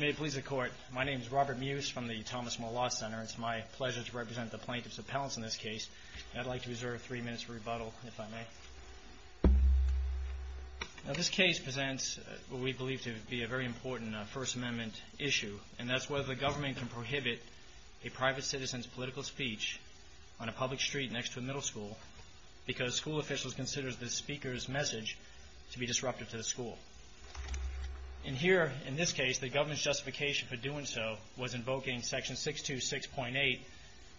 May it please the Court, my name is Robert Mewes from the Thomas More Law Center. It's my pleasure to represent the plaintiffs' appellants in this case. I'd like to reserve three minutes for rebuttal, if I may. Now, this case presents what we believe to be a very important First Amendment issue, and that's whether the government can prohibit a private citizen's political speech on a public street next to a middle school because school officials consider the speaker's message to be disruptive to the school. And here, in this case, the government's justification for doing so was invoking Section 626.8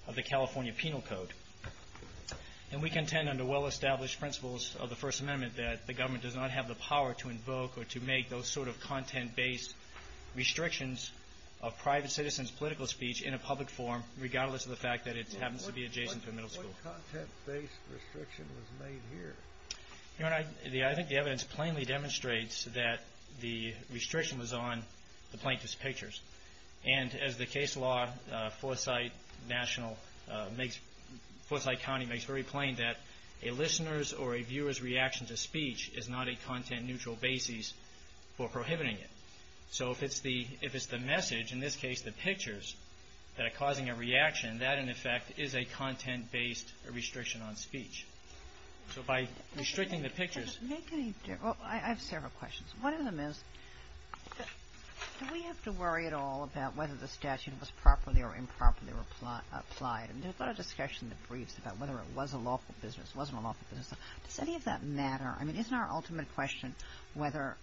of the California Penal Code. And we contend under well-established principles of the First Amendment that the government does not have the power to invoke or to make those sort of content-based restrictions of private citizens' political speech in a public forum, regardless of the fact that it happens to be adjacent to a middle school. What content-based restriction was made here? Your Honor, I think the evidence plainly demonstrates that the restriction was on the plaintiff's pictures. And as the case law, Forsyth County makes very plain that a listener's or a viewer's reaction to speech is not a content-neutral basis for prohibiting it. So if it's the message, in this case the pictures, that are causing a reaction, that, in effect, is a content-based restriction on speech. So by restricting the pictures… Well, I have several questions. One of them is, do we have to worry at all about whether the statute was properly or improperly applied? And there's a lot of discussion in the briefs about whether it was a lawful business, wasn't a lawful business. Does any of that matter? I mean, isn't our ultimate question whether,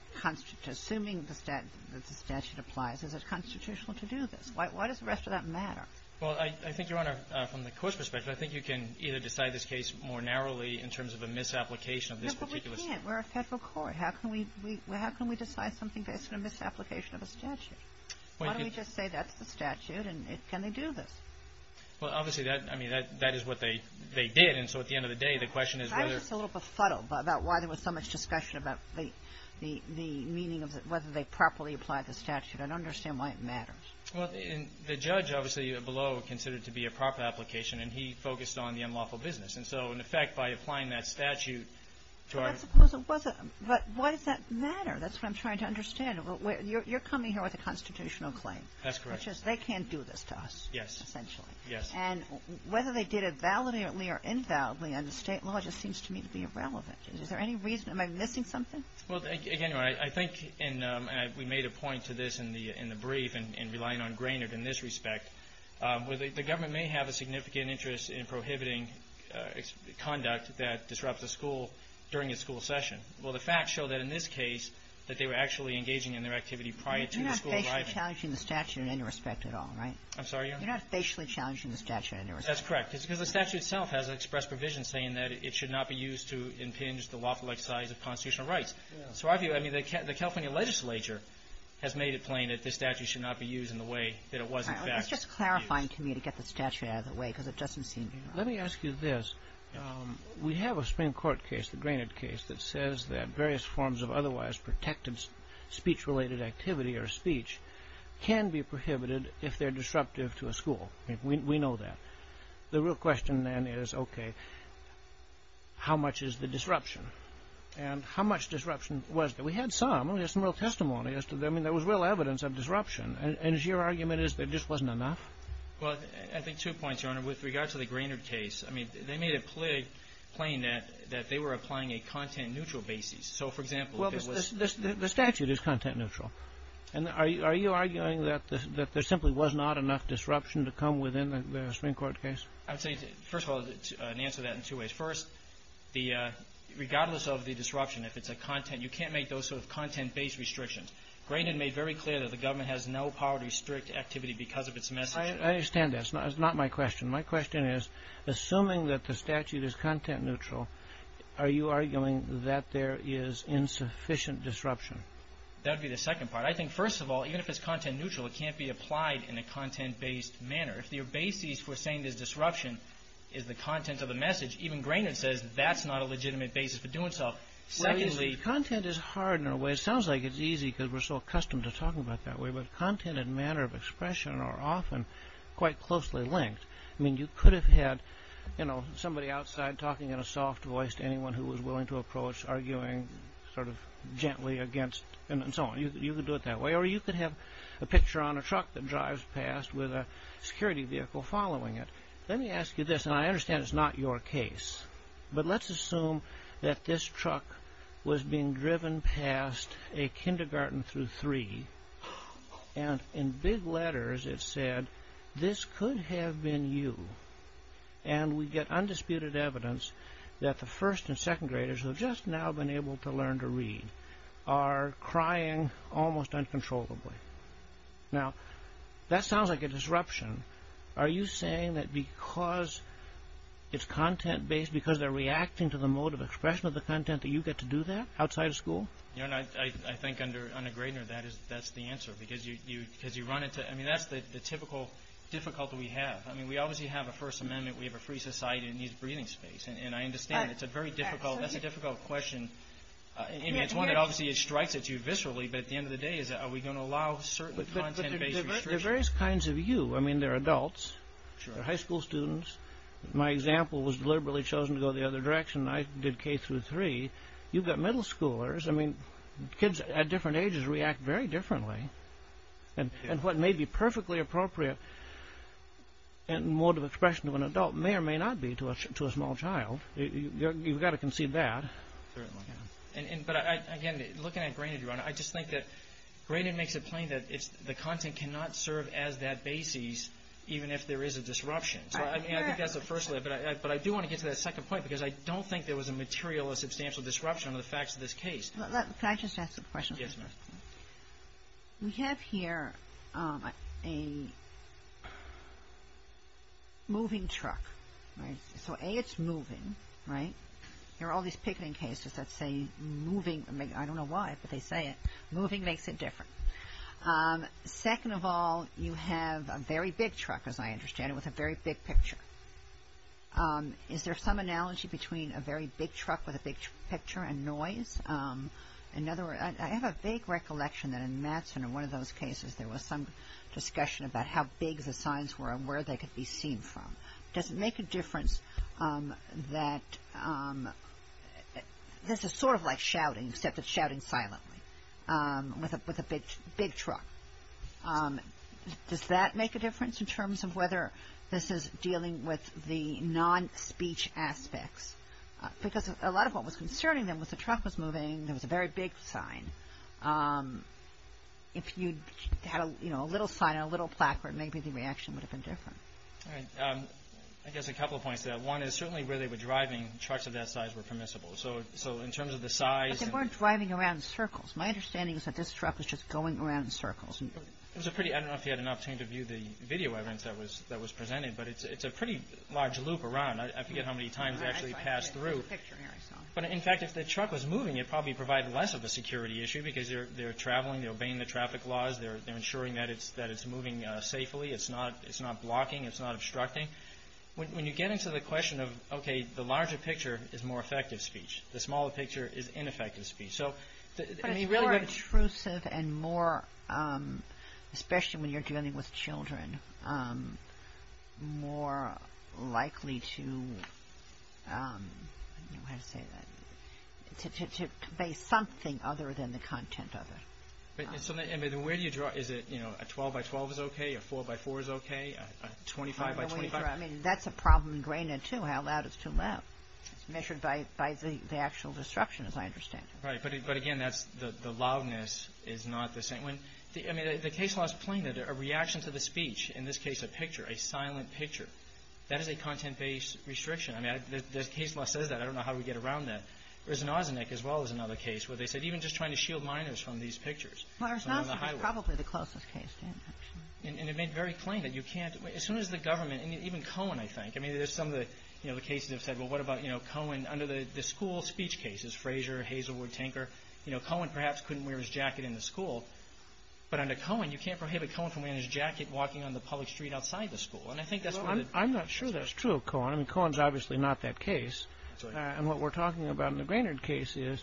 assuming the statute applies, is it constitutional to do this? Why does the rest of that matter? Well, I think, Your Honor, from the Court's perspective, I think you can either decide this case more narrowly in terms of a misapplication of this particular statute. No, but we can't. We're a federal court. How can we decide something based on a misapplication of a statute? Why don't we just say that's the statute, and can they do this? Well, obviously, I mean, that is what they did. And so at the end of the day, the question is whether… I think it's a little befuddled about why there was so much discussion about the meaning of whether they properly applied the statute. I don't understand why it matters. Well, the judge, obviously, below, considered it to be a proper application, and he focused on the unlawful business. And so, in effect, by applying that statute to our… Well, I suppose it wasn't. But why does that matter? That's what I'm trying to understand. You're coming here with a constitutional claim. That's correct. Which is, they can't do this to us, essentially. Yes. Yes. And whether they did it validly or invalidly under state law just seems to me to be irrelevant. Is there any reason… Am I missing something? Well, again, I think, and we made a point to this in the brief, and relying on Grainard in this respect, the government may have a significant interest in prohibiting conduct that disrupts a school during a school session. Well, the facts show that in this case, that they were actually engaging in their activity prior to the school arriving. You're not facially challenging the statute in any respect at all, right? I'm sorry, Your Honor? You're not facially challenging the statute in any respect. That's correct. Because the statute itself has expressed provision saying that it should not be used to impinge the lawful exercise of constitutional rights. So I view, I mean, the California legislature has made it plain that this statute should not be used in the way that it was in fact used. All right. Well, that's just clarifying to me to get the statute out of the way, because it doesn't seem… Let me ask you this. We have a Supreme Court case, the Grainard case, that says that various forms of otherwise protected speech-related activity or speech can be prohibited if they're disruptive to a school. I mean, we know that. The real question then is, okay, how much is the disruption? And how much disruption was there? We had some. We had some real testimony as to… I mean, there was real evidence of disruption. And your argument is there just wasn't enough? Well, I think two points, Your Honor. With regard to the Grainard case, I mean, they made it plain that they were applying a content-neutral basis. So, for example, if it was… The statute is content-neutral. And are you arguing that there simply was not enough disruption to come within the Supreme Court case? I would say, first of all, to answer that in two ways. First, regardless of the disruption, if it's a content… You can't make those sort of content-based restrictions. Grainard made very clear that the government has no power to restrict activity because of its message. I understand that. It's not my question. My question is, assuming that the statute is content-neutral, are you arguing that there is insufficient disruption? That would be the second part. I think, first of all, even if it's content-neutral, it can't be applied in a content-based manner. If your basis for saying there's disruption is the content of the message, even Grainard says that's not a legitimate basis for doing so. Secondly… Well, you see, content is hard in a way. It sounds like it's easy because we're so accustomed to talking about it that way. But content and manner of expression are often quite closely linked. I mean, you could have had somebody outside talking in a soft voice to anyone who was willing to approach, arguing sort of gently against, and so on. You could do it that way. Or you could have a picture on a truck that drives past with a security vehicle following it. Let me ask you this, and I understand it's not your case, but let's assume that this could have been you. And we get undisputed evidence that the first and second graders who have just now been able to learn to read are crying almost uncontrollably. Now, that sounds like a disruption. Are you saying that because it's content-based, because they're reacting to the mode of expression of the content, that you get to do that outside of school? I think under Graydon, that's the answer. Because you run into, I mean, that's the typical difficulty we have. I mean, we obviously have a First Amendment. We have a free society that needs breathing space. And I understand it's a very difficult, that's a difficult question. It's one that obviously strikes at you viscerally, but at the end of the day is, are we going to allow certain content-based restrictions? There are various kinds of you. I mean, there are adults, high school students. My example was deliberately chosen to go the other direction. I did K-3. You've got middle schoolers. I mean, kids at different ages react very differently. And what may be perfectly appropriate mode of expression to an adult may or may not be to a small child. You've got to concede that. Certainly. But again, looking at Graydon, Your Honor, I just think that Graydon makes it plain that the content cannot serve as that basis even if there is a disruption. So I think that's the first layer. But I do want to get to that second point because I don't think there was a material or substantial disruption to the facts of this case. Can I just ask a question? Yes, ma'am. We have here a moving truck. So A, it's moving, right? There are all these picketing cases that say moving. I don't know why, but they say it. Moving makes it different. Second of all, you have a very big truck, as I understand it, with a very big picture. Is there some – in other words, I have a vague recollection that in Mattson, in one of those cases, there was some discussion about how big the signs were and where they could be seen from. Does it make a difference that – this is sort of like shouting, except it's shouting silently with a big truck. Does that make a difference in terms of whether this is dealing with the non-speech aspects? Because a lot of what was concerning them was the truck was moving, there was a very big sign. If you had a little sign and a little placard, maybe the reaction would have been different. All right. I guess a couple of points to that. One is certainly where they were driving, trucks of that size were permissible. So in terms of the size – But they weren't driving around in circles. My understanding is that this truck was just going around in circles. It was a pretty – I don't know if you had an opportunity to view the video evidence that was presented, but it's a pretty large loop around. I forget how many times it actually passed through. I'm just picturing it myself. But in fact, if the truck was moving, it probably provided less of a security issue because they're traveling, they're obeying the traffic laws, they're ensuring that it's moving safely, it's not blocking, it's not obstructing. When you get into the question of, okay, the larger picture is more effective speech, the smaller picture is ineffective speech. So – But it's more intrusive and more – especially when you're dealing with children – more likely to – I don't know how to say that – to say something other than the content of it. But where do you draw – is it a 12 by 12 is okay, a 4 by 4 is okay, a 25 by 25? I mean, that's a problem ingrained in, too, how loud is too loud. It's measured by the actual disruption, as I understand it. Right. But again, that's – the loudness is not the same. When – I mean, the case law is plain that a reaction to the speech – in this case, a picture, a silent picture – that is a content-based restriction. I mean, the case law says that. I don't know how we get around that. There's an Osnick as well as another case where they said even just trying to shield minors from these pictures from on the highway. Well, Osnick is probably the closest case, Dan, actually. And it made very plain that you can't – as soon as the government – and even Cohen, I think. I mean, there's some of the – you know, the cases have said, well, what about, you know, Cohen? Under the school speech cases, Frazier, Hazelwood, Tinker, you know, Cohen perhaps couldn't wear his jacket in the school. But under Cohen, you can't prohibit Cohen from wearing his jacket walking on the public street outside the school. And I think that's one of the – Well, I'm not sure that's true of Cohen. I mean, Cohen's obviously not that case. That's right. And what we're talking about in the Greenard case is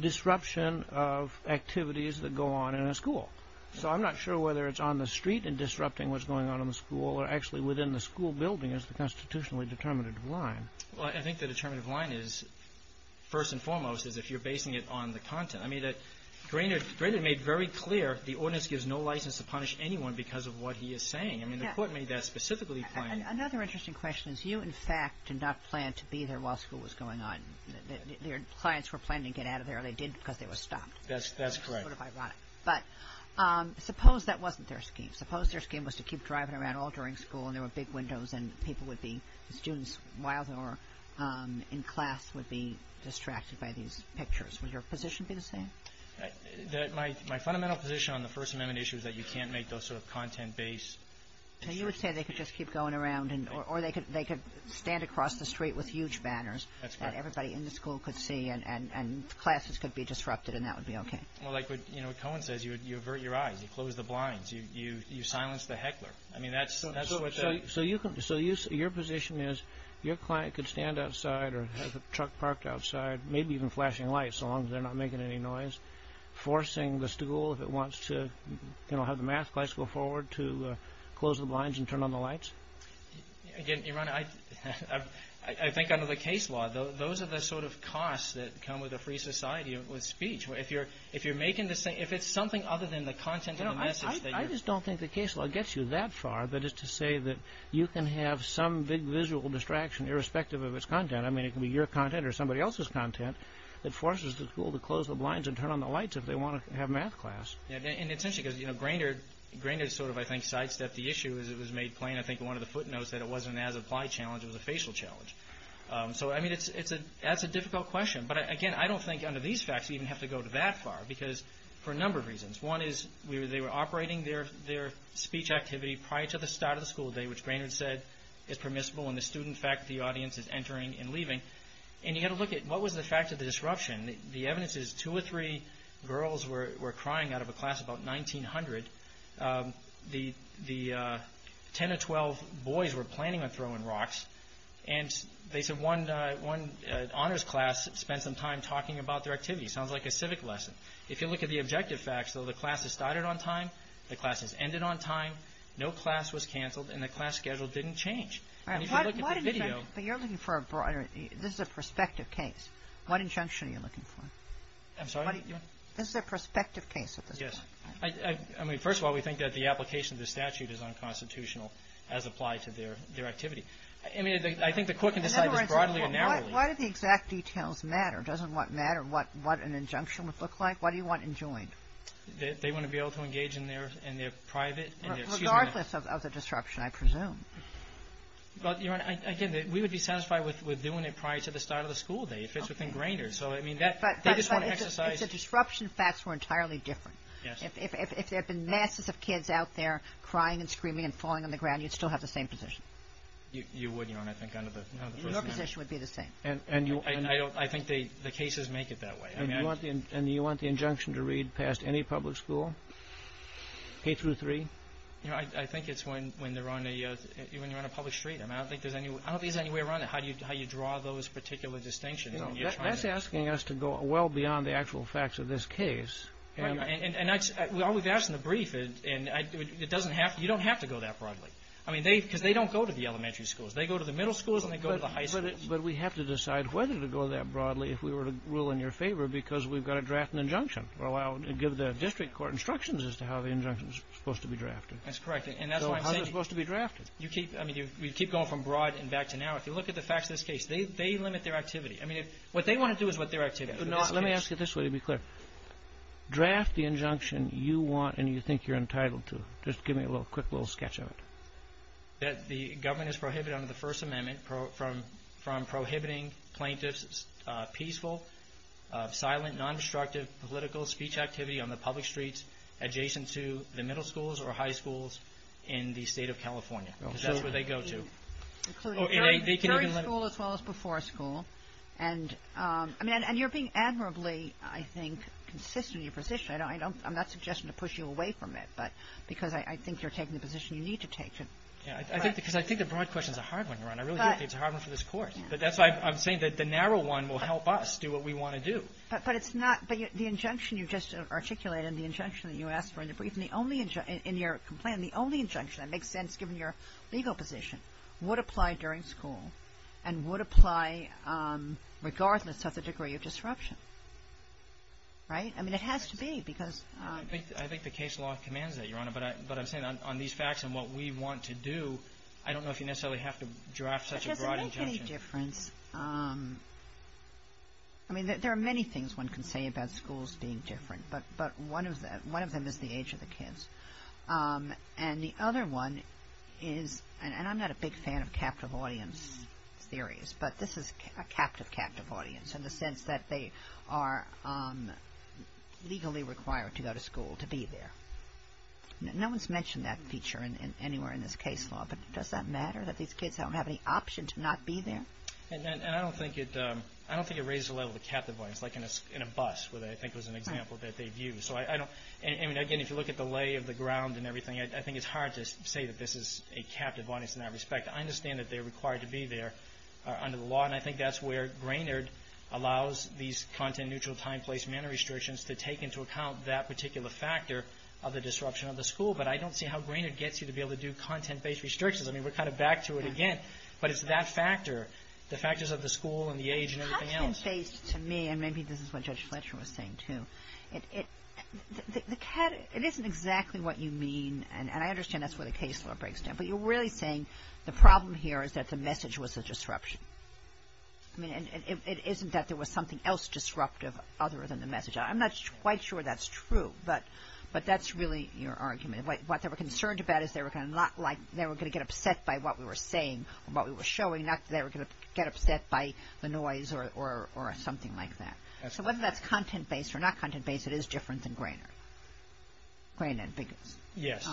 disruption of activities that go on in a school. So I'm not sure whether it's on the street and disrupting what's going on in the school or actually within the school building is the constitutionally determinative line. Well, I think the determinative line is – first and foremost is if you're basing it on the content. I mean, Greenard made very clear the ordinance gives no license to punish anyone because of what he is saying. I mean, the court made that specifically plain. Another interesting question is you, in fact, did not plan to be there while school was going on. Your clients were planning to get out of there, and they did because they were stopped. That's correct. Sort of ironic. But suppose that wasn't their scheme. Suppose their scheme was to keep driving around all during school, and there were big windows, and people would be – students, while they were in class, would be distracted by these pictures. Was your position to be the same? My fundamental position on the First Amendment issue is that you can't make those sort of content-based – So you would say they could just keep going around, or they could stand across the street with huge banners. That's correct. And everybody in the school could see, and classes could be disrupted, and that would be okay. Well, like what Cohen says, you avert your eyes. You close the blinds. You silence the heckler. I mean, that's what the – So your position is your client could stand outside or have a truck parked outside, maybe even flashing lights so long as they're not making any noise, forcing the stool if it wants to, you know, have the math class go forward to close the blinds and turn on the lights? Again, Your Honor, I think under the case law, those are the sort of costs that come with a free society with speech. If you're making the – if it's something other than the content of the message that you're – You know, I just don't think the case law gets you that far that it's to say that you can have some big visual distraction irrespective of its content. I mean, it can be your content or somebody else's content that forces the school to close the blinds and turn on the lights if they want to have math class. Yeah, and essentially, because, you know, Grainard sort of, I think, sidestepped the issue as it was made plain, I think, in one of the footnotes, that it wasn't an as-applied challenge, it was a facial challenge. So, I mean, it's a – that's a difficult question. But, again, I don't think under these facts we even have to go that far because for a number of reasons. One is they were operating their speech activity prior to the start of the school day, which Grainard said is permissible, and the student faculty audience is entering and leaving. And you've got to look at what was the fact of the disruption. The evidence is two or three girls were crying out of a class about 1900. The 10 or 12 boys were planning on throwing rocks, and they said one honors class spent some time talking about their activity. Sounds like a civic lesson. If you look at the objective facts, though, the class has started on time, the class has ended on time, no class was canceled, and the class schedule didn't change. All right. But you're looking for a broader – this is a prospective case. What injunction are you looking for? I'm sorry? This is a prospective case of this. Yes. I mean, first of all, we think that the application of the statute is unconstitutional as applied to their activity. I mean, I think the court can decide this broadly and narrowly. Why do the exact details matter? Doesn't what matter what an injunction would look like? What do you want enjoined? They want to be able to engage in their private – But, Your Honor, again, we would be satisfied with doing it prior to the start of the school day if it's within grainer. So, I mean, that – they just want to exercise – But it's a disruption – facts were entirely different. If there had been masses of kids out there crying and screaming and falling on the ground, you'd still have the same position. You wouldn't, Your Honor. I think under the first amendment – Your position would be the same. And you – I don't – I think the cases make it that way. And you want the injunction to read past any public school, K-3? You know, I think it's when they're on a – when you're on a public street. I mean, I don't think there's any – I don't think there's any way around it how you draw those particular distinctions. That's asking us to go well beyond the actual facts of this case. And that's – all we've asked in the brief is – and it doesn't have – you don't have to go that broadly. I mean, they – because they don't go to the elementary schools. They go to the middle schools and they go to the high schools. But we have to decide whether to go that broadly if we were to rule in your favor because we've got to draft an injunction or allow – give the district court instructions as to how the injunction's supposed to be drafted. That's correct. And that's why I'm saying – So how's it supposed to be drafted? You keep – I mean, you keep going from broad and back to now. If you look at the facts of this case, they limit their activity. I mean, what they want to do is what their activity is. Let me ask you this way to be clear. Draft the injunction you want and you think you're entitled to. Just give me a little – quick little sketch of it. That the government is prohibited under the First Amendment from prohibiting plaintiffs' peaceful, silent, non-destructive political speech activity on the public streets adjacent to the middle schools or high schools in the state of California. Because that's where they go to. Very school as well as before school. And you're being admirably, I think, consistent in your position. I'm not suggesting to push you away from it. But because I think you're taking the position you need to take. Because I think the broad question's a hard one, Your Honor. I really do think it's a hard one for this Court. But that's why I'm saying that the narrow one will help us do what we want to do. But it's not – but the injunction you just articulated and the injunction that you asked for in the brief and the only – in your complaint, the only injunction that makes sense given your legal position would apply during school and would apply regardless of the degree of disruption. Right? I mean, it has to be because – I think the case law commands that, Your Honor. But I'm saying on these facts and what we want to do, I don't know if you necessarily have to draft such a broad injunction. It doesn't make any difference. I mean, there are many things one can say about schools being different. But one of them is the age of the kids. And the other one is – and I'm not a big fan of captive audience theories. But this is a captive, captive audience in the sense that they are legally required to go to school to be there. No one's mentioned that feature anywhere in this case law. But does that matter that these kids don't have any option to not be there? And I don't think it raises the level of captive audience like in a bus where I think was an example that they view. So I don't – I mean, again, if you look at the lay of the ground and everything, I think it's hard to say that this is a captive audience in that respect. I understand that they're required to be there under the law. And I think that's where Grainard allows these content-neutral time, place, manner restrictions to take into account that particular factor of the disruption of the school. But I don't see how Grainard gets you to be able to do content-based restrictions. I mean, we're kind of back to it again. But it's that factor, the factors of the school and the age and everything else. But content-based to me, and maybe this is what Judge Fletcher was saying too, it isn't exactly what you mean. And I understand that's where the case law breaks down. But you're really saying the problem here is that the message was a disruption. I mean, it isn't that there was something else disruptive other than the message. I'm not quite sure that's true. But that's really your argument. What they were concerned about is they were going to – what we were showing, not that they were going to get upset by the noise or something like that. So whether that's content-based or not content-based, it is different than Grainard. Grainard. Yes.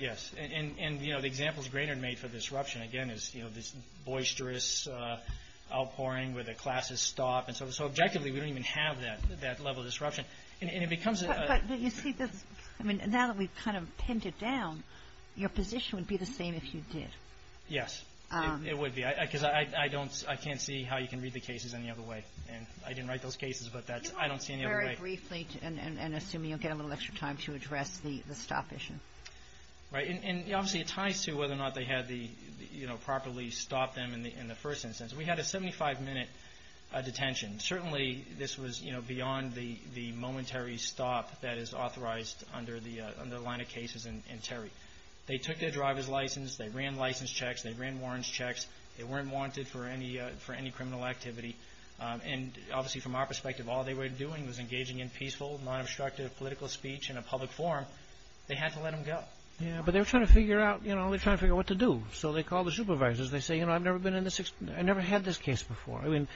Yes. And the examples Grainard made for disruption, again, is this boisterous outpouring where the classes stop. So objectively, we don't even have that level of disruption. And it becomes – But you see, now that we've kind of pinned it down, your position would be the same if you did. Yes. It would be. Because I don't – I can't see how you can read the cases any other way. And I didn't write those cases, but that's – I don't see any other way. Very briefly, and assuming you'll get a little extra time to address the stop issue. Right. And obviously, it ties to whether or not they had the – properly stopped them in the first instance. We had a 75-minute detention. Certainly, this was beyond the momentary stop that is authorized under the line of cases in Terry. They took their driver's license. They ran license checks. They ran warrants checks. They weren't warranted for any criminal activity. And obviously, from our perspective, all they were doing was engaging in peaceful, non-obstructive political speech in a public forum. They had to let them go. Yes, but they were trying to figure out – you know, they were trying to figure out what to do. So they called the supervisors. They say, you know, I've never been in the – I never had this case before. I mean,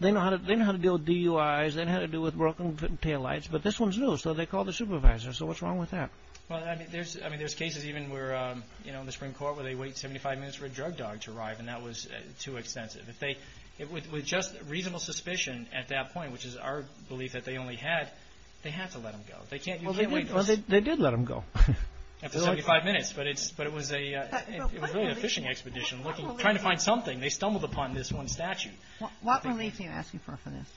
they know how to deal with DUIs. They know how to deal with broken taillights. But this one's new, so they called the supervisors. So what's wrong with that? Well, I mean, there's – I mean, there's cases even where, you know, in the Supreme Court where they wait 75 minutes for a drug dog to arrive, and that was too extensive. If they – with just reasonable suspicion at that point, which is our belief that they only had, they had to let them go. They can't – you can't wait – Well, they did let them go. After 75 minutes. But it's – but it was a – It was really a fishing expedition looking – trying to find something. They stumbled upon this one statute. What relief are you asking for from this?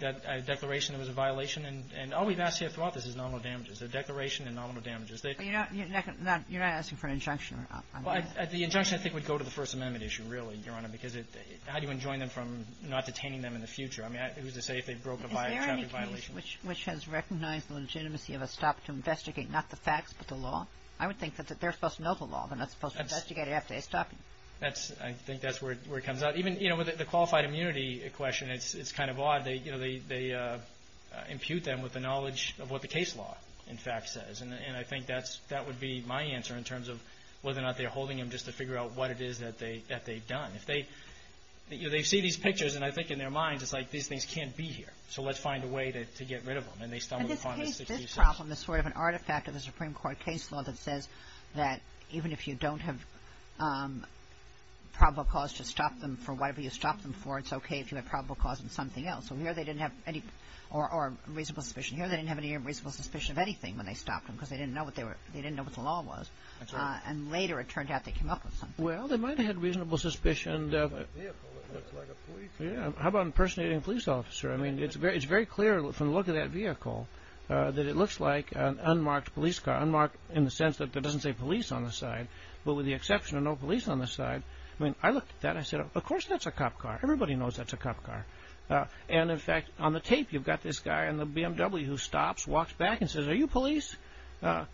That declaration it was a violation, and all we've asked here throughout this is nominal damages. A declaration and nominal damages. But you're not – you're not asking for an injunction on this? Well, the injunction, I think, would go to the First Amendment issue, really, Your Honor, because how do you enjoin them from not detaining them in the future? I mean, who's to say if they broke a traffic violation? Is there any case which has recognized the legitimacy of a stop to investigate not the facts but the law? I would think that they're supposed to know the law. They're not supposed to investigate it after they stop it. That's – I think that's where it comes out. Even, you know, with the qualified immunity question, it's kind of odd. They, you know, they impute them with the knowledge of what the case law, in fact, says. And I think that's – that would be my answer in terms of whether or not they're holding them just to figure out what it is that they've done. If they – you know, they see these pictures, and I think in their minds it's like, these things can't be here. So let's find a way to get rid of them. And they stumbled upon this. But this case, this problem is sort of an artifact of the Supreme Court case law that says that even if you don't have probable cause to stop them for whatever you stop them for, it's okay if you have probable cause in something else. So here they didn't have any – or reasonable suspicion. Here they didn't have any reasonable suspicion of anything when they stopped them because they didn't know what the law was. And later it turned out they came up with something. Well, they might have had reasonable suspicion of – It's like a vehicle. It looks like a police vehicle. Yeah. How about impersonating a police officer? I mean, it's very clear from the look of that vehicle that it looks like an unmarked police car. Unmarked in the sense that it doesn't say police on the side. But with the exception of no police on the side, I mean, I looked at that and I said, well, of course that's a cop car. Everybody knows that's a cop car. And in fact, on the tape you've got this guy in the BMW who stops, walks back and says, are you police? I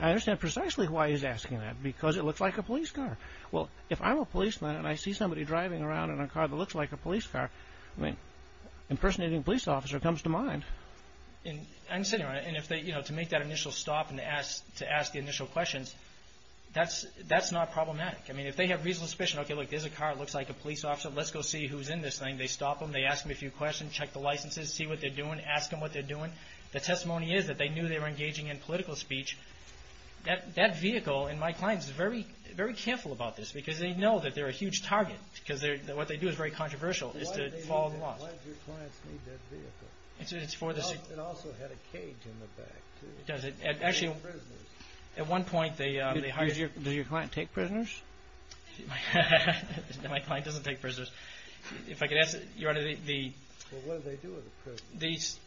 understand precisely why he's asking that because it looks like a police car. Well, if I'm a policeman and I see somebody driving around in a car that looks like a police car, I mean, impersonating a police officer comes to mind. And to make that initial stop and to ask the initial questions, that's not problematic. I mean, if they have a reasonable suspicion, okay, look, there's a car that looks like a police officer, let's go see who's in this thing, they stop them, they ask them a few questions, check the licenses, see what they're doing, ask them what they're doing. The testimony is that they knew they were engaging in political speech. That vehicle and my clients are very careful about this because they know that they're a huge target because what they do is very controversial is to fall in law. Why did your clients need that vehicle? It also had a cage in the back, too. It does. Actually, at one point they hired... Did your client take prisoners? My client doesn't take prisoners. If I could ask, Your Honor, the... Well, what do they do with the prisoners?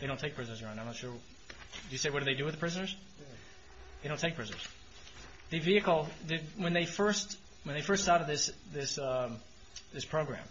They don't take prisoners, Your Honor, I'm not sure. Did you say what do they do with the prisoners? They don't take prisoners. The vehicle, when they first started this program,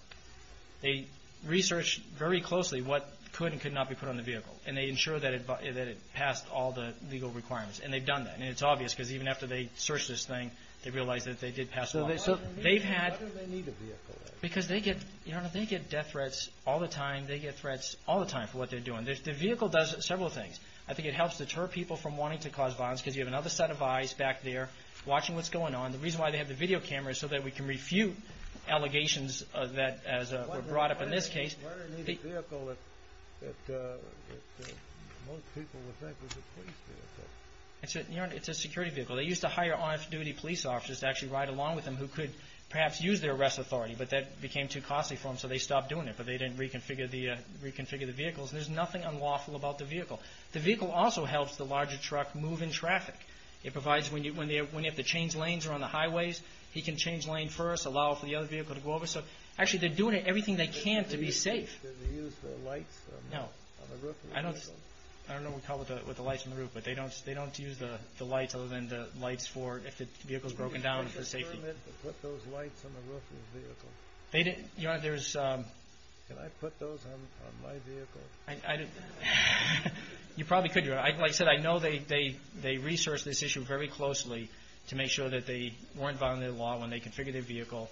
they researched very closely what could and could not be put on the vehicle. And they ensure that it passed all the legal requirements. And they've done that. And it's obvious because even after they searched this thing they realized that they did pass one. Why do they need a vehicle? Because they get death threats all the time. They get threats all the time for what they're doing. The vehicle does several things. I think it helps deter people from wanting to cause violence because you have another set of eyes back there watching what's going on. The reason why they have the video camera is so that we can refute allegations that were brought up in this case. Why do they need a vehicle that most people would think was a police vehicle? It's a security vehicle. They used to hire on-duty police officers to actually ride along with them who could perhaps use their arrest authority but that became too costly for them so they stopped doing it but they didn't reconfigure the vehicles. There's nothing unlawful about the vehicle. The vehicle also helps the larger truck move in traffic. It provides when you have to change lanes or on the highways he can change lanes first and allow the other vehicle to go over. Actually they're doing to be safe. Did they use the lights on the roof of the vehicle? No. I don't know what we call it with the lights on the roof but they don't use the lights other than the lights for if the vehicle is broken down for safety. Did they put those lights on the roof of the vehicle? Can I put those on my vehicle? You probably could. Like I said I know they research this issue very closely to make sure that they weren't violating the law when they configure their vehicle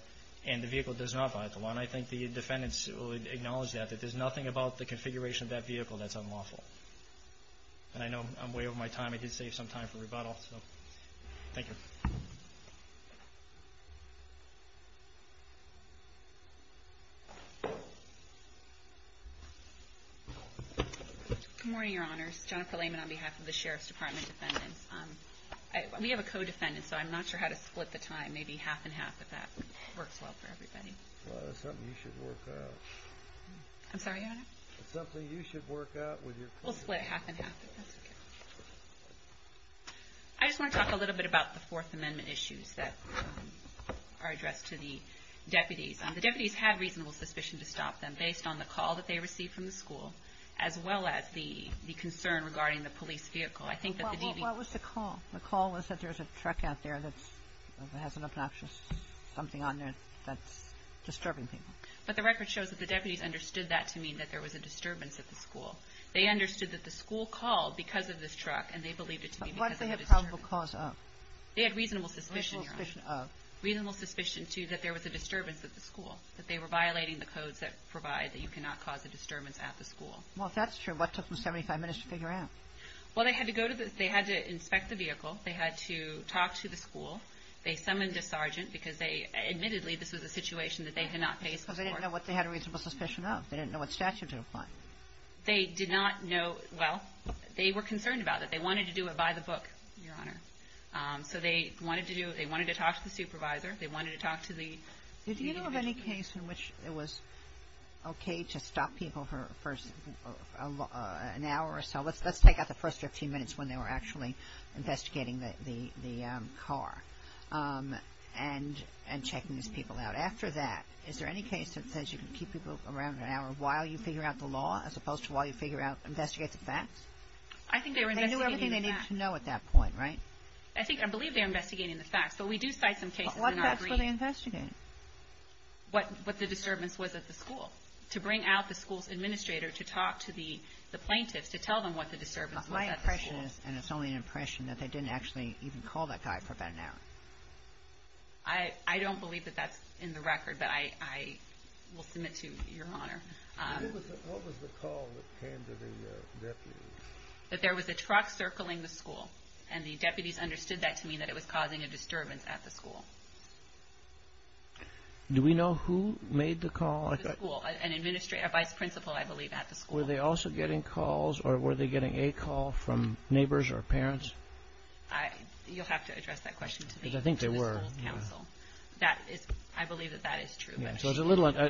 and the vehicle does not violate the law. I think the defendants acknowledge that that there's nothing about the configuration of that vehicle that's unlawful. I know I'm way over my time I did save some time for rebuttal. Thank you. Good morning your honors. Jennifer Lehman on behalf of the Sheriff's Department defendants. We have a co-defendant so I'm not sure how to split the time maybe half and half if that works well for everybody. you should work out. I'm sorry your honor? It's something you should work out with your co-defendants. We'll split half and half if that's okay. I just want to talk a little bit about the Fourth Amendment issues that are addressed to the deputies. The deputies have reasonable suspicion to stop them based on the call that they received from the school as well as the concern regarding the police vehicle. What was the call? The call was that there's a truck out there that has an obnoxious something on there that's disturbing people. But the record shows that the deputies understood that to mean that there was a disturbance at the school. They understood that the school called because of this truck and they believed it to be because of the disturbance. What did they have probable cause of? They had reasonable suspicion that there was a disturbance at the school that they were violating the codes that provide that you cannot cause a disturbance at the school. Well, if that's true, what took them 75 minutes to figure out? Well, they had to inspect the vehicle, they had to talk to the school, they summoned a sergeant because they admittedly this was a situation that they could not face. Because they didn't know what they had a reasonable suspicion of? They didn't know what statute to apply? They did not know, well, they were concerned about it. They wanted to do it by the book, Your Honor. So they wanted to do it, they wanted to talk to the supervisor, they wanted to talk to the school. Did you know of any case in which it was okay to stop people for an hour or so, let's take out the first 15 minutes when they were actually investigating the car and checking these people out. After that, is there any case that says you can keep people around an hour while you figure out the law as opposed to while you figure out, investigate the facts? They knew everything they needed to know at that point, right? I believe they were investigating the facts. What facts were they investigating? What the disturbance was at the school. To bring out the school's administrator, to talk to the plaintiffs, to tell them what the disturbance was. My impression is, and it's only an impression, that they didn't actually even call that guy for about an hour. I don't believe that that's in the record, but I will submit to your honor. What was the call that came to the deputies? That there was a truck circling the school and making a call from neighbors or parents? to address that question to me. I think there were. I believe that that is true.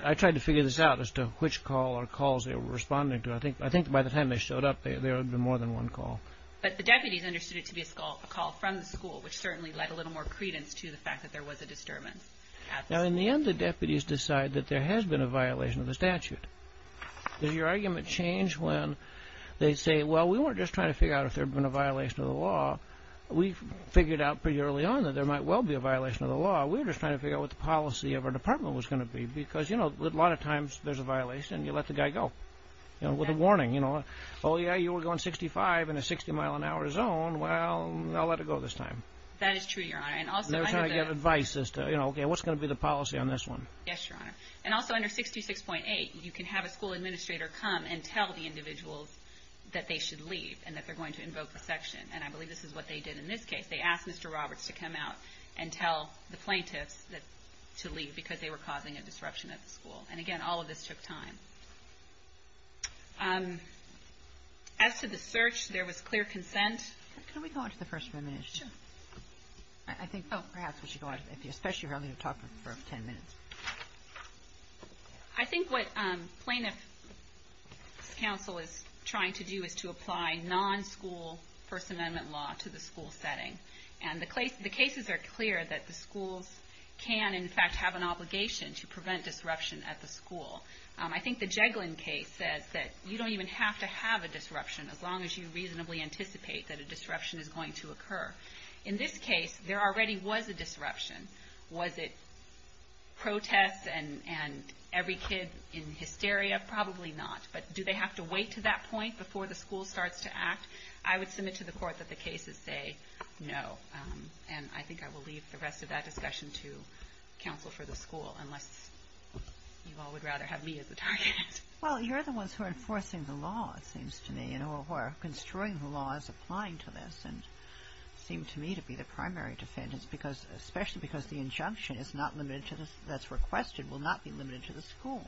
I tried to figure this out as to which call or calls they were responding to. I think by the time they showed up, there would have been more than one call. But the deputies understood it to be a call from the school, which certainly led a little more credence to the fact that there was a disturbance. In the end, the deputies decide that there has been a violation of the statute. Does your argument change when they say, well, we weren't just trying to figure out if there had been a violation of the law. We were just trying to figure out what the policy of our department was going to be. A lot of times there's a violation and you let the guy go with a warning. Oh, yeah, you were going 65 in a 60-mile-an-hour zone. Well, I'll let it go this time. That is true, Your Honor. And also under 66.8, you can have a school not permit leave. We could have suspended the plaintiffs to leave because they were causing a disruption at the school. Again, all of this took time. As to the search, there was clear consent. I think what the plaintiff council is trying to do is to apply non-school law to the school setting. The cases are clear that the schools can, in fact, have an obligation to prevent disruption at the school. I think the Jeglin case says you don't even have to have a disruption as long as you reasonably anticipate that a disruption is going to occur. In this case, there already was a disruption. Was it protests and every kid in hysteria? Probably not. But do they have to wait to that point before the school starts to act? I would submit to the court that the cases say no. I think I will leave the rest of that discussion to counsel for the school unless you all would rather have me as the target. Well, you're the ones who are enforcing the law, it seems to me. You're the ones who are constructing the laws applying to this and seem to me to be the primary defendants especially because the injunction that's requested will not be limited to the school.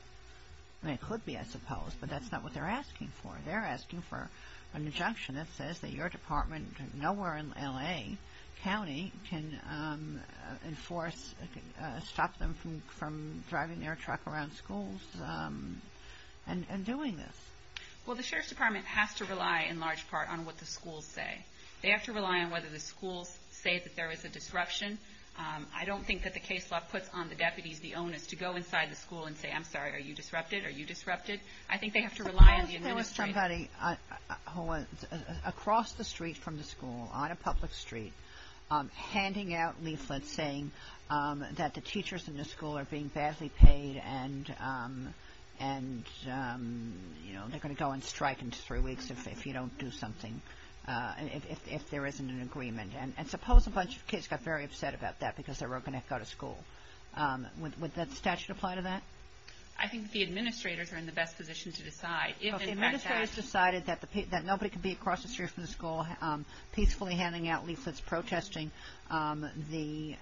It could be, I suppose, but that's not what they're asking for. They're asking for an injunction that says that your department nowhere in L.A. County can enforce, stop them from driving their truck around schools and doing this. Well, the Sheriff's Department has to rely in large part on what the schools say. They have to rely on whether the schools say that there is a disruption. I don't think that the case law puts on the deputies the onus to go inside the school and say, I'm sorry, are you disrupted? Are you disrupted? I think they have to rely on the administration. Can you tell us somebody across the street from the school on a public order to do something if there isn't an agreement? And suppose a bunch of kids got very upset about that because they were going to go to school. Would the statute apply to that? I think the administrators are in the best position to decide. If the administrators decided that nobody could be across the street from the school peacefully handing out leaflets protesting the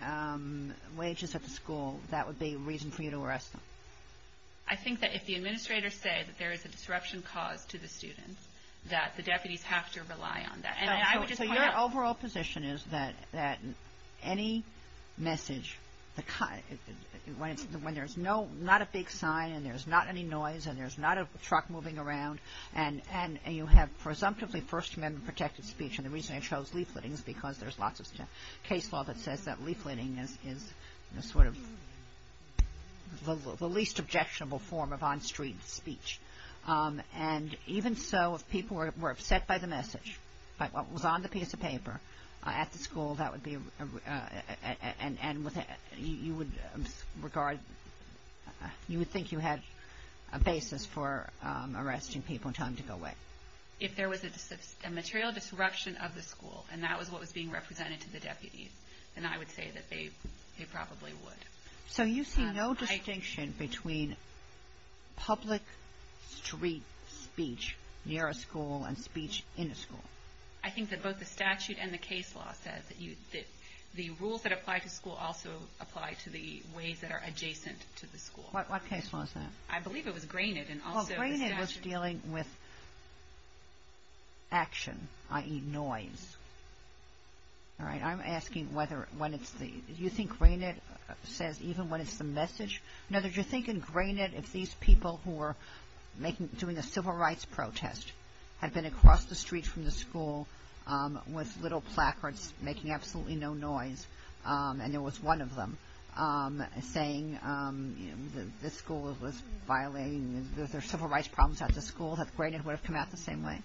wages at the school, that would be a reason for you to arrest them. I think if the administrators say there is a disruption in school and there is no cause to the students, that the deputies have to rely on that. Your overall position is that any message when there is not a big sign and there is not any noise and there is not a truck moving around and you have presumptively First Amendment protected speech and the reason I chose leafletting is because there is lots of case law that says leafletting is the least objectionable form of on-street speech. Even so, if people were upset by the message, was on the piece of paper at the school, that would be and you would regard, you would think you had a basis for arresting people and telling them to go away. If there was a material disruption of the school and that was what was being represented to the deputies, then I would say that they probably would. So you see no distinction between public street speech near a school and speech in a school? I think that both the statute and the case law says that the rules that apply to school also apply to the ways that are adjacent to the school. What case law is that? was Granite. Well, Granite was dealing with action, i.e. noise. All right. I'm asking whether when it's the, do you think Granite says even when it's the message? Now, did you think in Granite if these people who were making, doing a civil rights protest had been across the street from the school with little placards making absolutely no noise and there was one of them saying this school was violating their civil rights problems at the school that Granite would have come out the same way?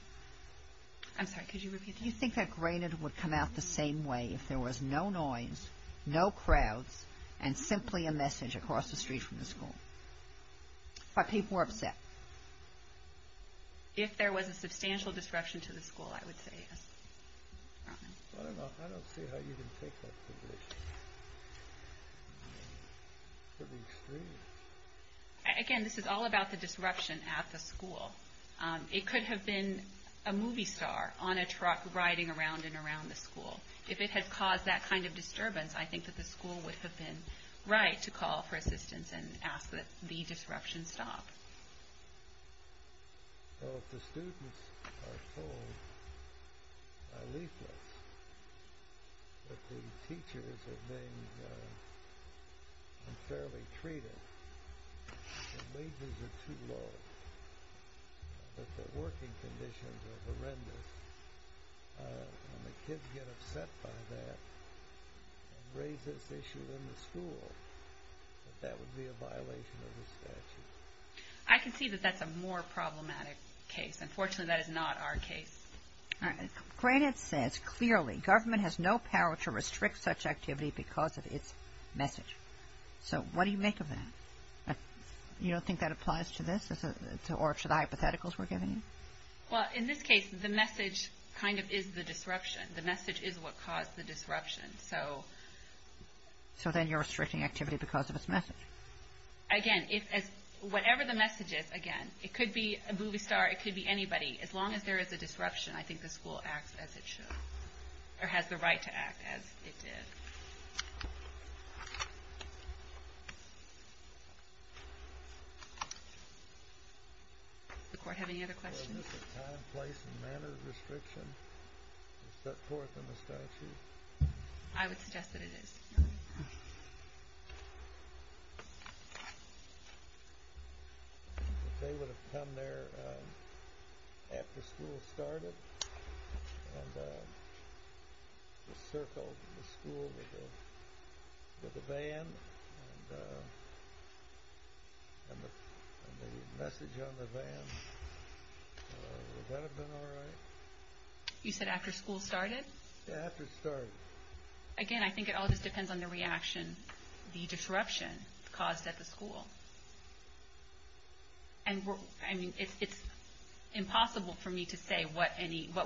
I'm sorry, could you repeat that? Do you think that Granite would come out the same way if there was no disruption? If there was a substantial disruption to the school, I would say yes. I don't see how you can take that to the extreme. Again, this is all about the disruption at the school. It could have been a movie star on a truck riding around and around the school. If it had caused that kind of disturbance, I think that the school would have been right to call for assistance and ask that the disruption stop. Well, if the students are told by leaflets that the teachers are being unfairly treated, are too low, that the working conditions are horrendous, and the kids get upset by that, and raise this issue with the school, I think that would be a violation of the statute. I can see that that's a more problematic case. Unfortunately, that is not our case. Graded says clearly, government has no power to restrict such activity because of its message. So, what do you make of that? You don't think that applies to this, or to the hypotheticals we're giving you? Well, in this case, the message kind of is the disruption. The message is what caused the disruption. So then you're restricting activity because of its message? Again, whatever the message is, again, it could be a movie star, it could be anybody. As long as there is a disruption, I think the school acts as it should, or has the right to act as it did. Does the court have any other questions? Is this a time, place, and manner restriction set forth in the statute? I would suggest that it is. They would have come there after ban, and the message on the ban would have been, well, they would have said, well, we're not going to do that. Would that have been all right? You said after school started? Yeah, after it started. Again, I think it all just depends on the reaction, the disruption caused at the school. I mean, it's impossible for me to say what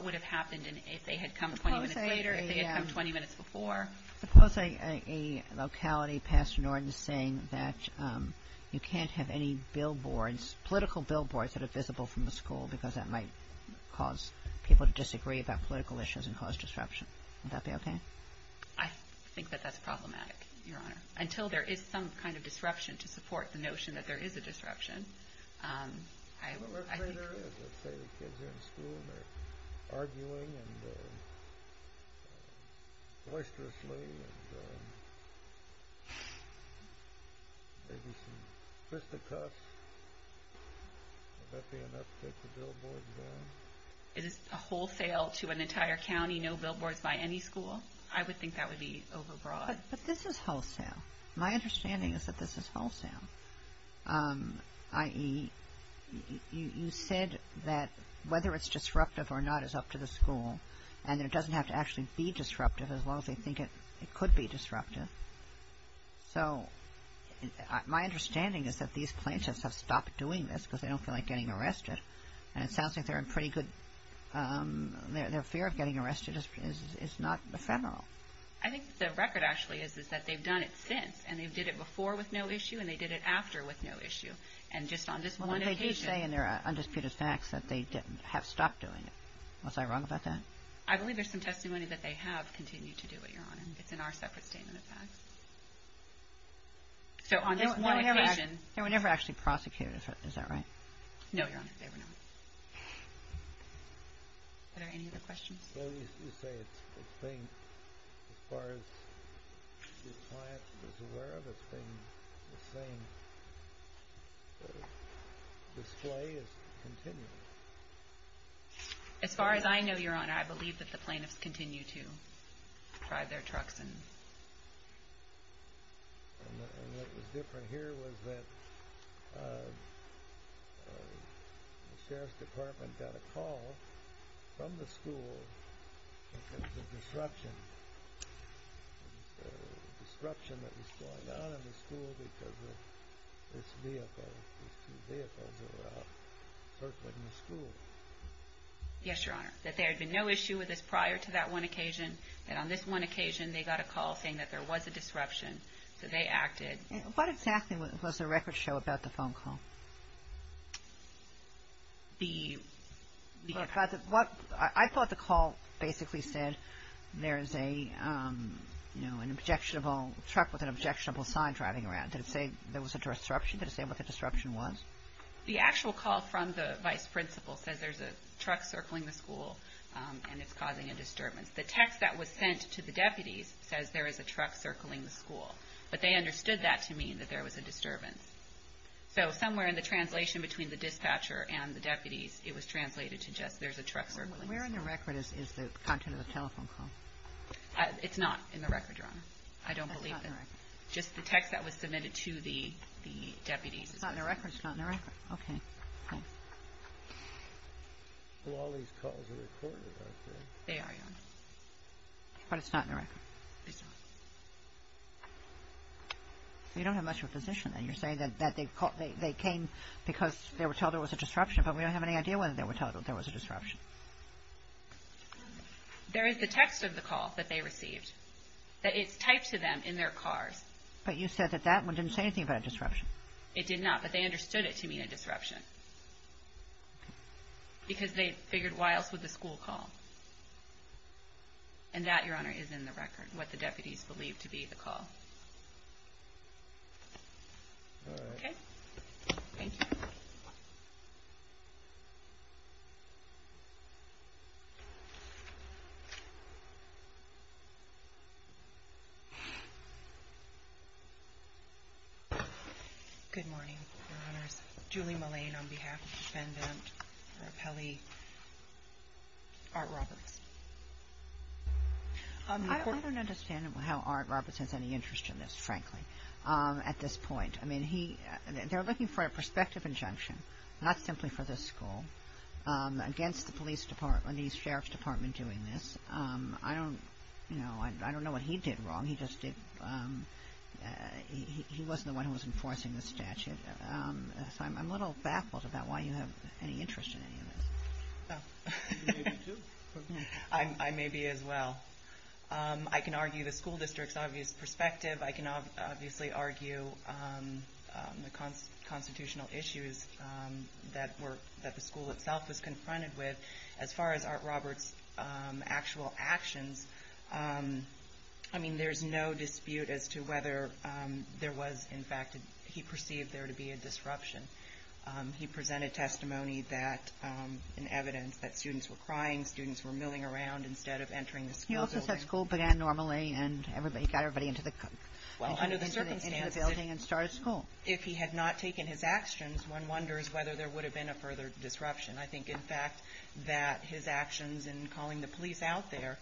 would have happened if they had come 20 minutes later, if they had come 20 minutes before. Suppose a locality, Pastor Norton, is saying that you can't have any billboards, political billboards that are visible from the school because that might cause people to disagree about political issues and cause disruption. Would that be okay? I think that that's problematic, Your Honor. Until there is some kind of disruption to support the notion that there is a disruption. Let's say the kids are in school and they're arguing and oysterously and maybe some fisticuffs, would that be enough to take the billboards down? Is this a wholesale to an entire county, no billboards by any school? I would think that would be overbroad. But this is wholesale. My understanding is that this is wholesale, i.e., you said that whether it's disruptive or not is up to the school and it doesn't have to actually be disruptive as long as they think it could be disruptive. So my understanding is that these plaintiffs have stopped doing this because they don't feel like getting arrested and it sounds like they're in pretty good fear of getting arrested is not ephemeral. I think the record actually is that they've done it since and they did it before with no issue and they did it after with no issue and just on this one occasion Well, they do say in their undisputed facts that they have stopped doing it. Was I wrong about that? I believe there's some testimony that they have continued to do it, Your Honor. It's in our separate statement of facts. So on this one occasion They were never actually prosecuted, is that right? No, Your Honor. They were not. Are there any other questions? Well, you say it's been as far as the client is aware of, it's been the same. The display is continuing. As far as Your Honor, I believe that the plaintiffs continue to drive their trucks. And what was different here was that the Sheriff's Department got a call from the school because of the disruption that was going on in the school because of this vehicle, these two vehicles that were out circling the school. Yes, Your Honor. That there had been no issue with this prior to that one occasion. That on this one occasion they got a call from the school that there was a truck circling the school and it's causing a disturbance. The text that was sent to the deputies says there is a truck circling the school. But they understood that to mean that there was a disturbance. So somewhere in the translation between the dispatcher and the deputies it was translated to just there's a truck circling the school. Where in the record is the content of the telephone call? It's not in the record, Your Honor. I don't believe that. Just the text that was submitted to It's not in the record. It's not in the record. Okay. Thanks. Well, all these calls are recorded out there. They are, Your Honor. But it's not in the record. It's not. You don't have much of a position then. You're saying that they came because they were told there was a disruption, but we don't have any idea whether they were told there was a disruption. There is the text of the call that they received, that it's typed to them in their cars. But you said that that one didn't say anything about a disruption. It did not. But they understood it to mean a disruption. Because they figured why else would the school call? And that, Your Honor, is in the record, what the deputies believe to be the call. All right. Okay. Thank you. Good morning, Your Honors. Julie Mullane on behalf of the defendant, Art Roberts. I don't understand how Art Roberts has any interest in this, frankly, at this point. I mean, they're looking for a prospective injunction, not simply for this school, against the police department, the sheriff's department doing this. I don't know what he did wrong. He just did he wasn't the one who was enforcing the statute. I'm a little baffled about why you have any interest in any of this. I may be as well. I can argue the school district's obvious perspective. I can obviously argue the constitutional issues that the school itself was confronted with. As far as Art Roberts' actual actions, I mean, there's no dispute as to whether there was, in fact, he pursued or perceived there to be a disruption. He presented testimony that and evidence that students were crying, students were milling around instead of entering the school building. He also said school began normally and got everybody into the building and started school. If he had not taken his actions, one wonders whether there would have been a further disruption. I think, I mean, he was out there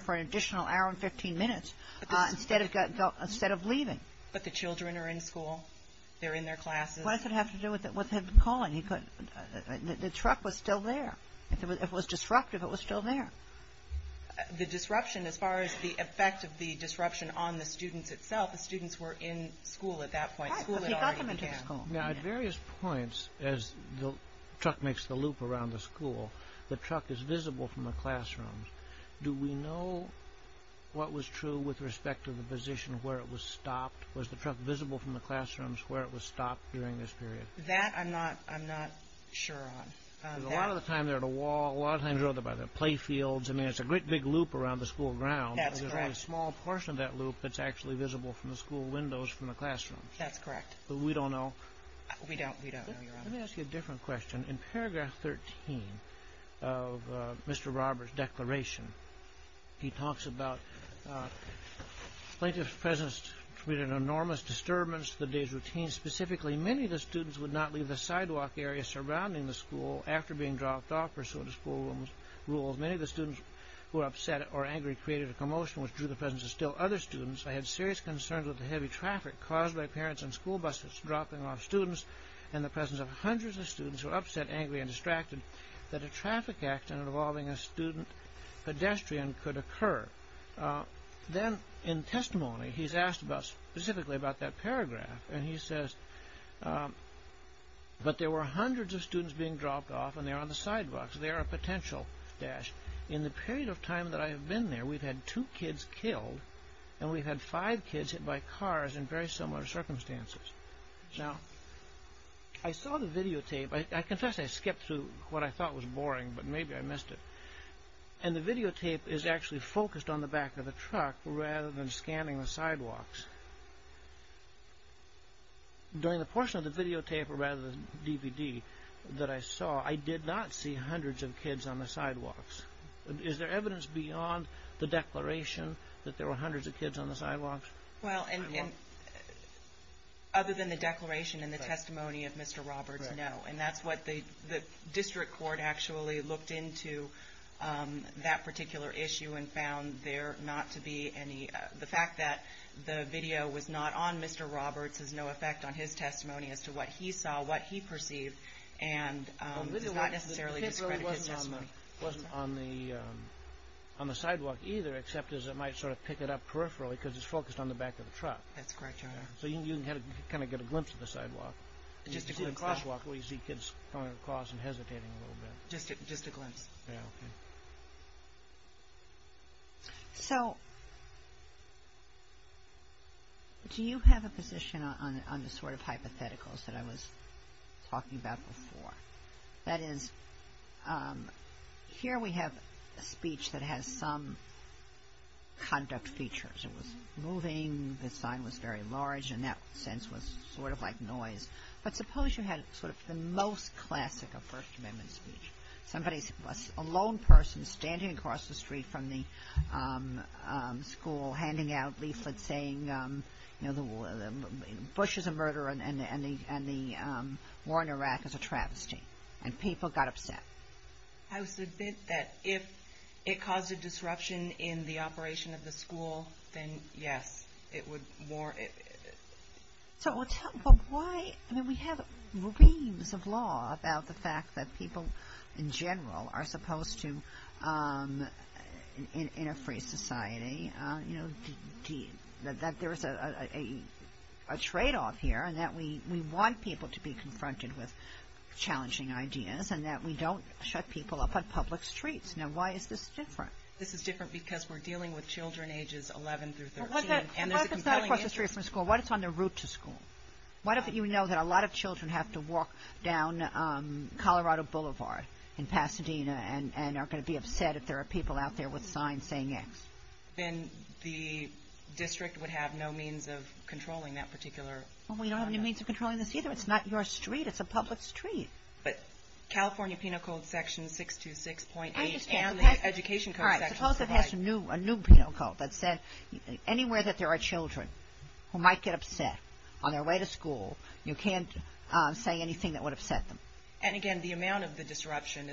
for an additional hour and 15 minutes instead of leaving. But the children are in school, they're in their classes. What does it have to do with him calling? The truck was still there. It was disruptive, it was still there. The disruption as far as the effect of the disruption on the students itself, the students were in school at that point. At various points, as the truck makes the loop around the school, the truck is visible from the classrooms. Do we know what was true with respect to the position where it was stopped? Was the truck visible from the school windows from the classroom? That's correct. don't know? We don't know, Your Honor. Let me ask you a different question. In paragraph 13 of Mr. Robert's declaration, he talks about plaintiff's presence created an enormous disturbance to the day's routine. Specifically, many of the students would not leave the sidewalk area surrounding the school after being dropped off pursuant to school rules. Many of the students who were upset or angry created a commotion which drew the presence of still other students. I had serious concerns with the heavy traffic caused by this incident. I was concerned about the students being dropped off on the sidewalks. In the period of time I've been there, we've had two kids killed and five kids hit by cars in similar circumstances. I saw the videotape and the videotape is focused on the back of the truck rather than scanning the sidewalks. During the portion of the videotape rather than the DVD that I saw, I did not see hundreds of kids on the sidewalks. Is there evidence beyond the declaration that there were hundreds of kids on the sidewalks? Well, other than the declaration and the testimony of Mr. Roberts, no. And that's what the District Court actually looked into that particular issue and found there not to be any... The fact that the video was not on Mr. Roberts has no effect on his testimony as to what he saw, what he perceived, and it's not necessarily discredited. The video wasn't on the sidewalk either except as it might sort of pick it up peripherally because it's focused on the back of the truck. That's correct, Your Honor. So you can kind of get a glimpse of the sidewalk. Just a glimpse. Just a glimpse. So, do you have a position on the sort of hypotheticals that I was talking about before? That is, here we have speech that has some conduct features. It was moving, the sign was very large and that sense was sort of like noise. But suppose you had sort of the most classic of First Amendment speech. A lone person standing across the street from the school handing out leaflets to the community. And people got upset. I would submit that if it caused a disruption in the operation of the school, then yes, it would more. So, but why, I mean, we have reams of law about the fact that people in general are supposed to, in a free society, you know, that there is a trade-off here and that we want people to be confronted with challenging ideas and that we don't shut on public streets. Now, why is this different? This is different because we're dealing with children ages 11 through 13. Well, what if it's not across the street from California? not across the street from California, then the district would have no means of controlling that particular. Well, we don't have any means of controlling this either. It's not your street. It's a public street. But California penal code section 626.8 and the education code section. Suppose it has a new penal code that said anywhere that there are children who might get upset on their way to school, you can't say anything that would upset them. And, again, the amount of the disruption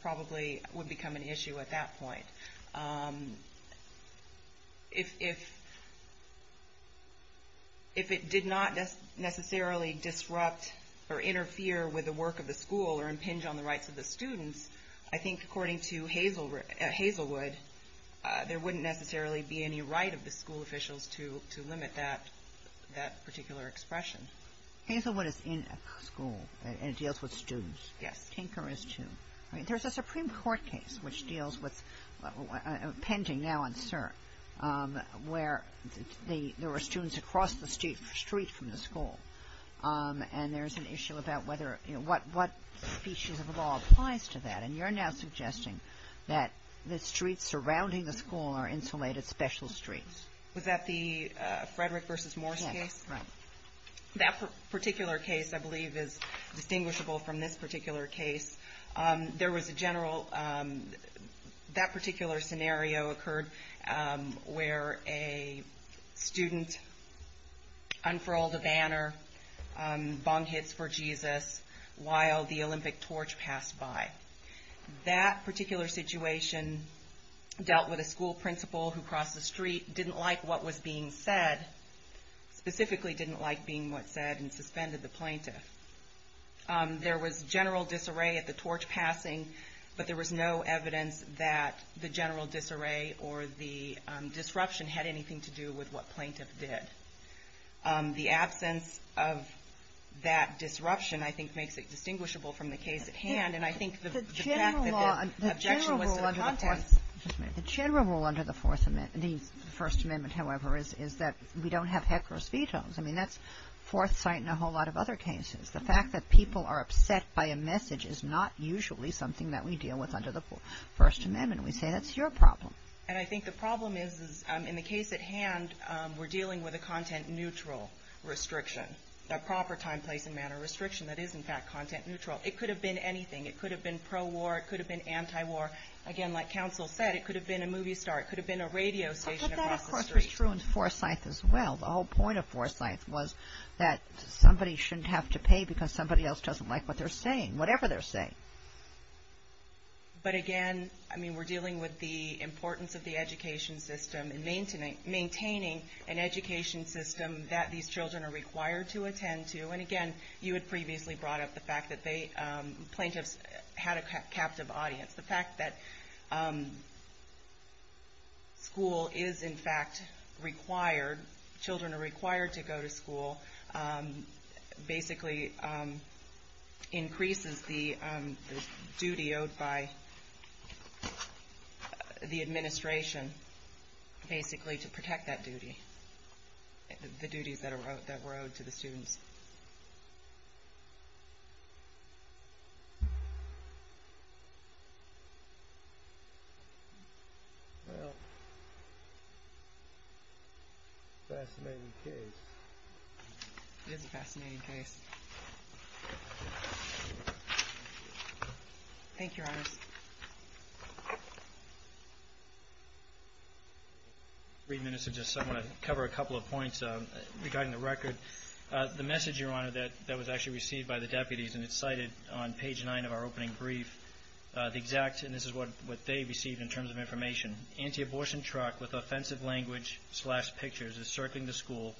probably would become an issue at that point. If it did not necessarily disrupt or limit, there wouldn't necessarily be any right of the school officials to limit that particular expression. Hazelwood is in a school and it deals with students. Yes. Tinker is too. There's a Supreme Court case which deals with pending now where there were students across the street from the school and there's an issue about what species of law applies to that. And you're now suggesting that the streets surrounding the school are insulated special streets. Was that the Frederick v. Morse case? Yes. That particular case, I believe, is distinguishable from this particular case. There was a general that particular scenario occurred where a student unfurled a banner, bong hits for Jesus, while the Olympic torch passed by. That particular situation dealt with a school principal who crossed the street, didn't like what was being said, specifically didn't like being what said and suspended the plaintiff. There was general disarray or the disruption had anything to do with what plaintiff did. The absence of that disruption, I think, makes it distinguishable from the case at hand. The general rule under the First Amendment, however, is that we don't have hecheros vetoes. That's foresight in a whole lot of other cases. The fact that people are upset by a message is not usually something that we deal with under the First Amendment. We say, that's your problem. And I think the problem is in the case at hand, we're dealing with a content neutral restriction, a proper time, place and manner restriction that is in fact content neutral. It could have been anything. It could have been pro-war, it could have been anti-war. Again, like counsel said, it could have been a movie star, it could have been a radio station across the street. But that, of course, was true in the And I think there was some foresight as well. The whole point of foresight was that somebody shouldn't have to pay because somebody else doesn't like what they're saying, whatever they're saying. But again, I mean, we're dealing with the reality that school is in fact required, children are required to go to school, basically increases the duty owed by the administration basically to protect that duty, the duties that were owed to the students. Well, fascinating case. It is a fascinating case. Thank you, Your Honor. so I'm going to cover a couple of points regarding the record. The main point of the record was that there was a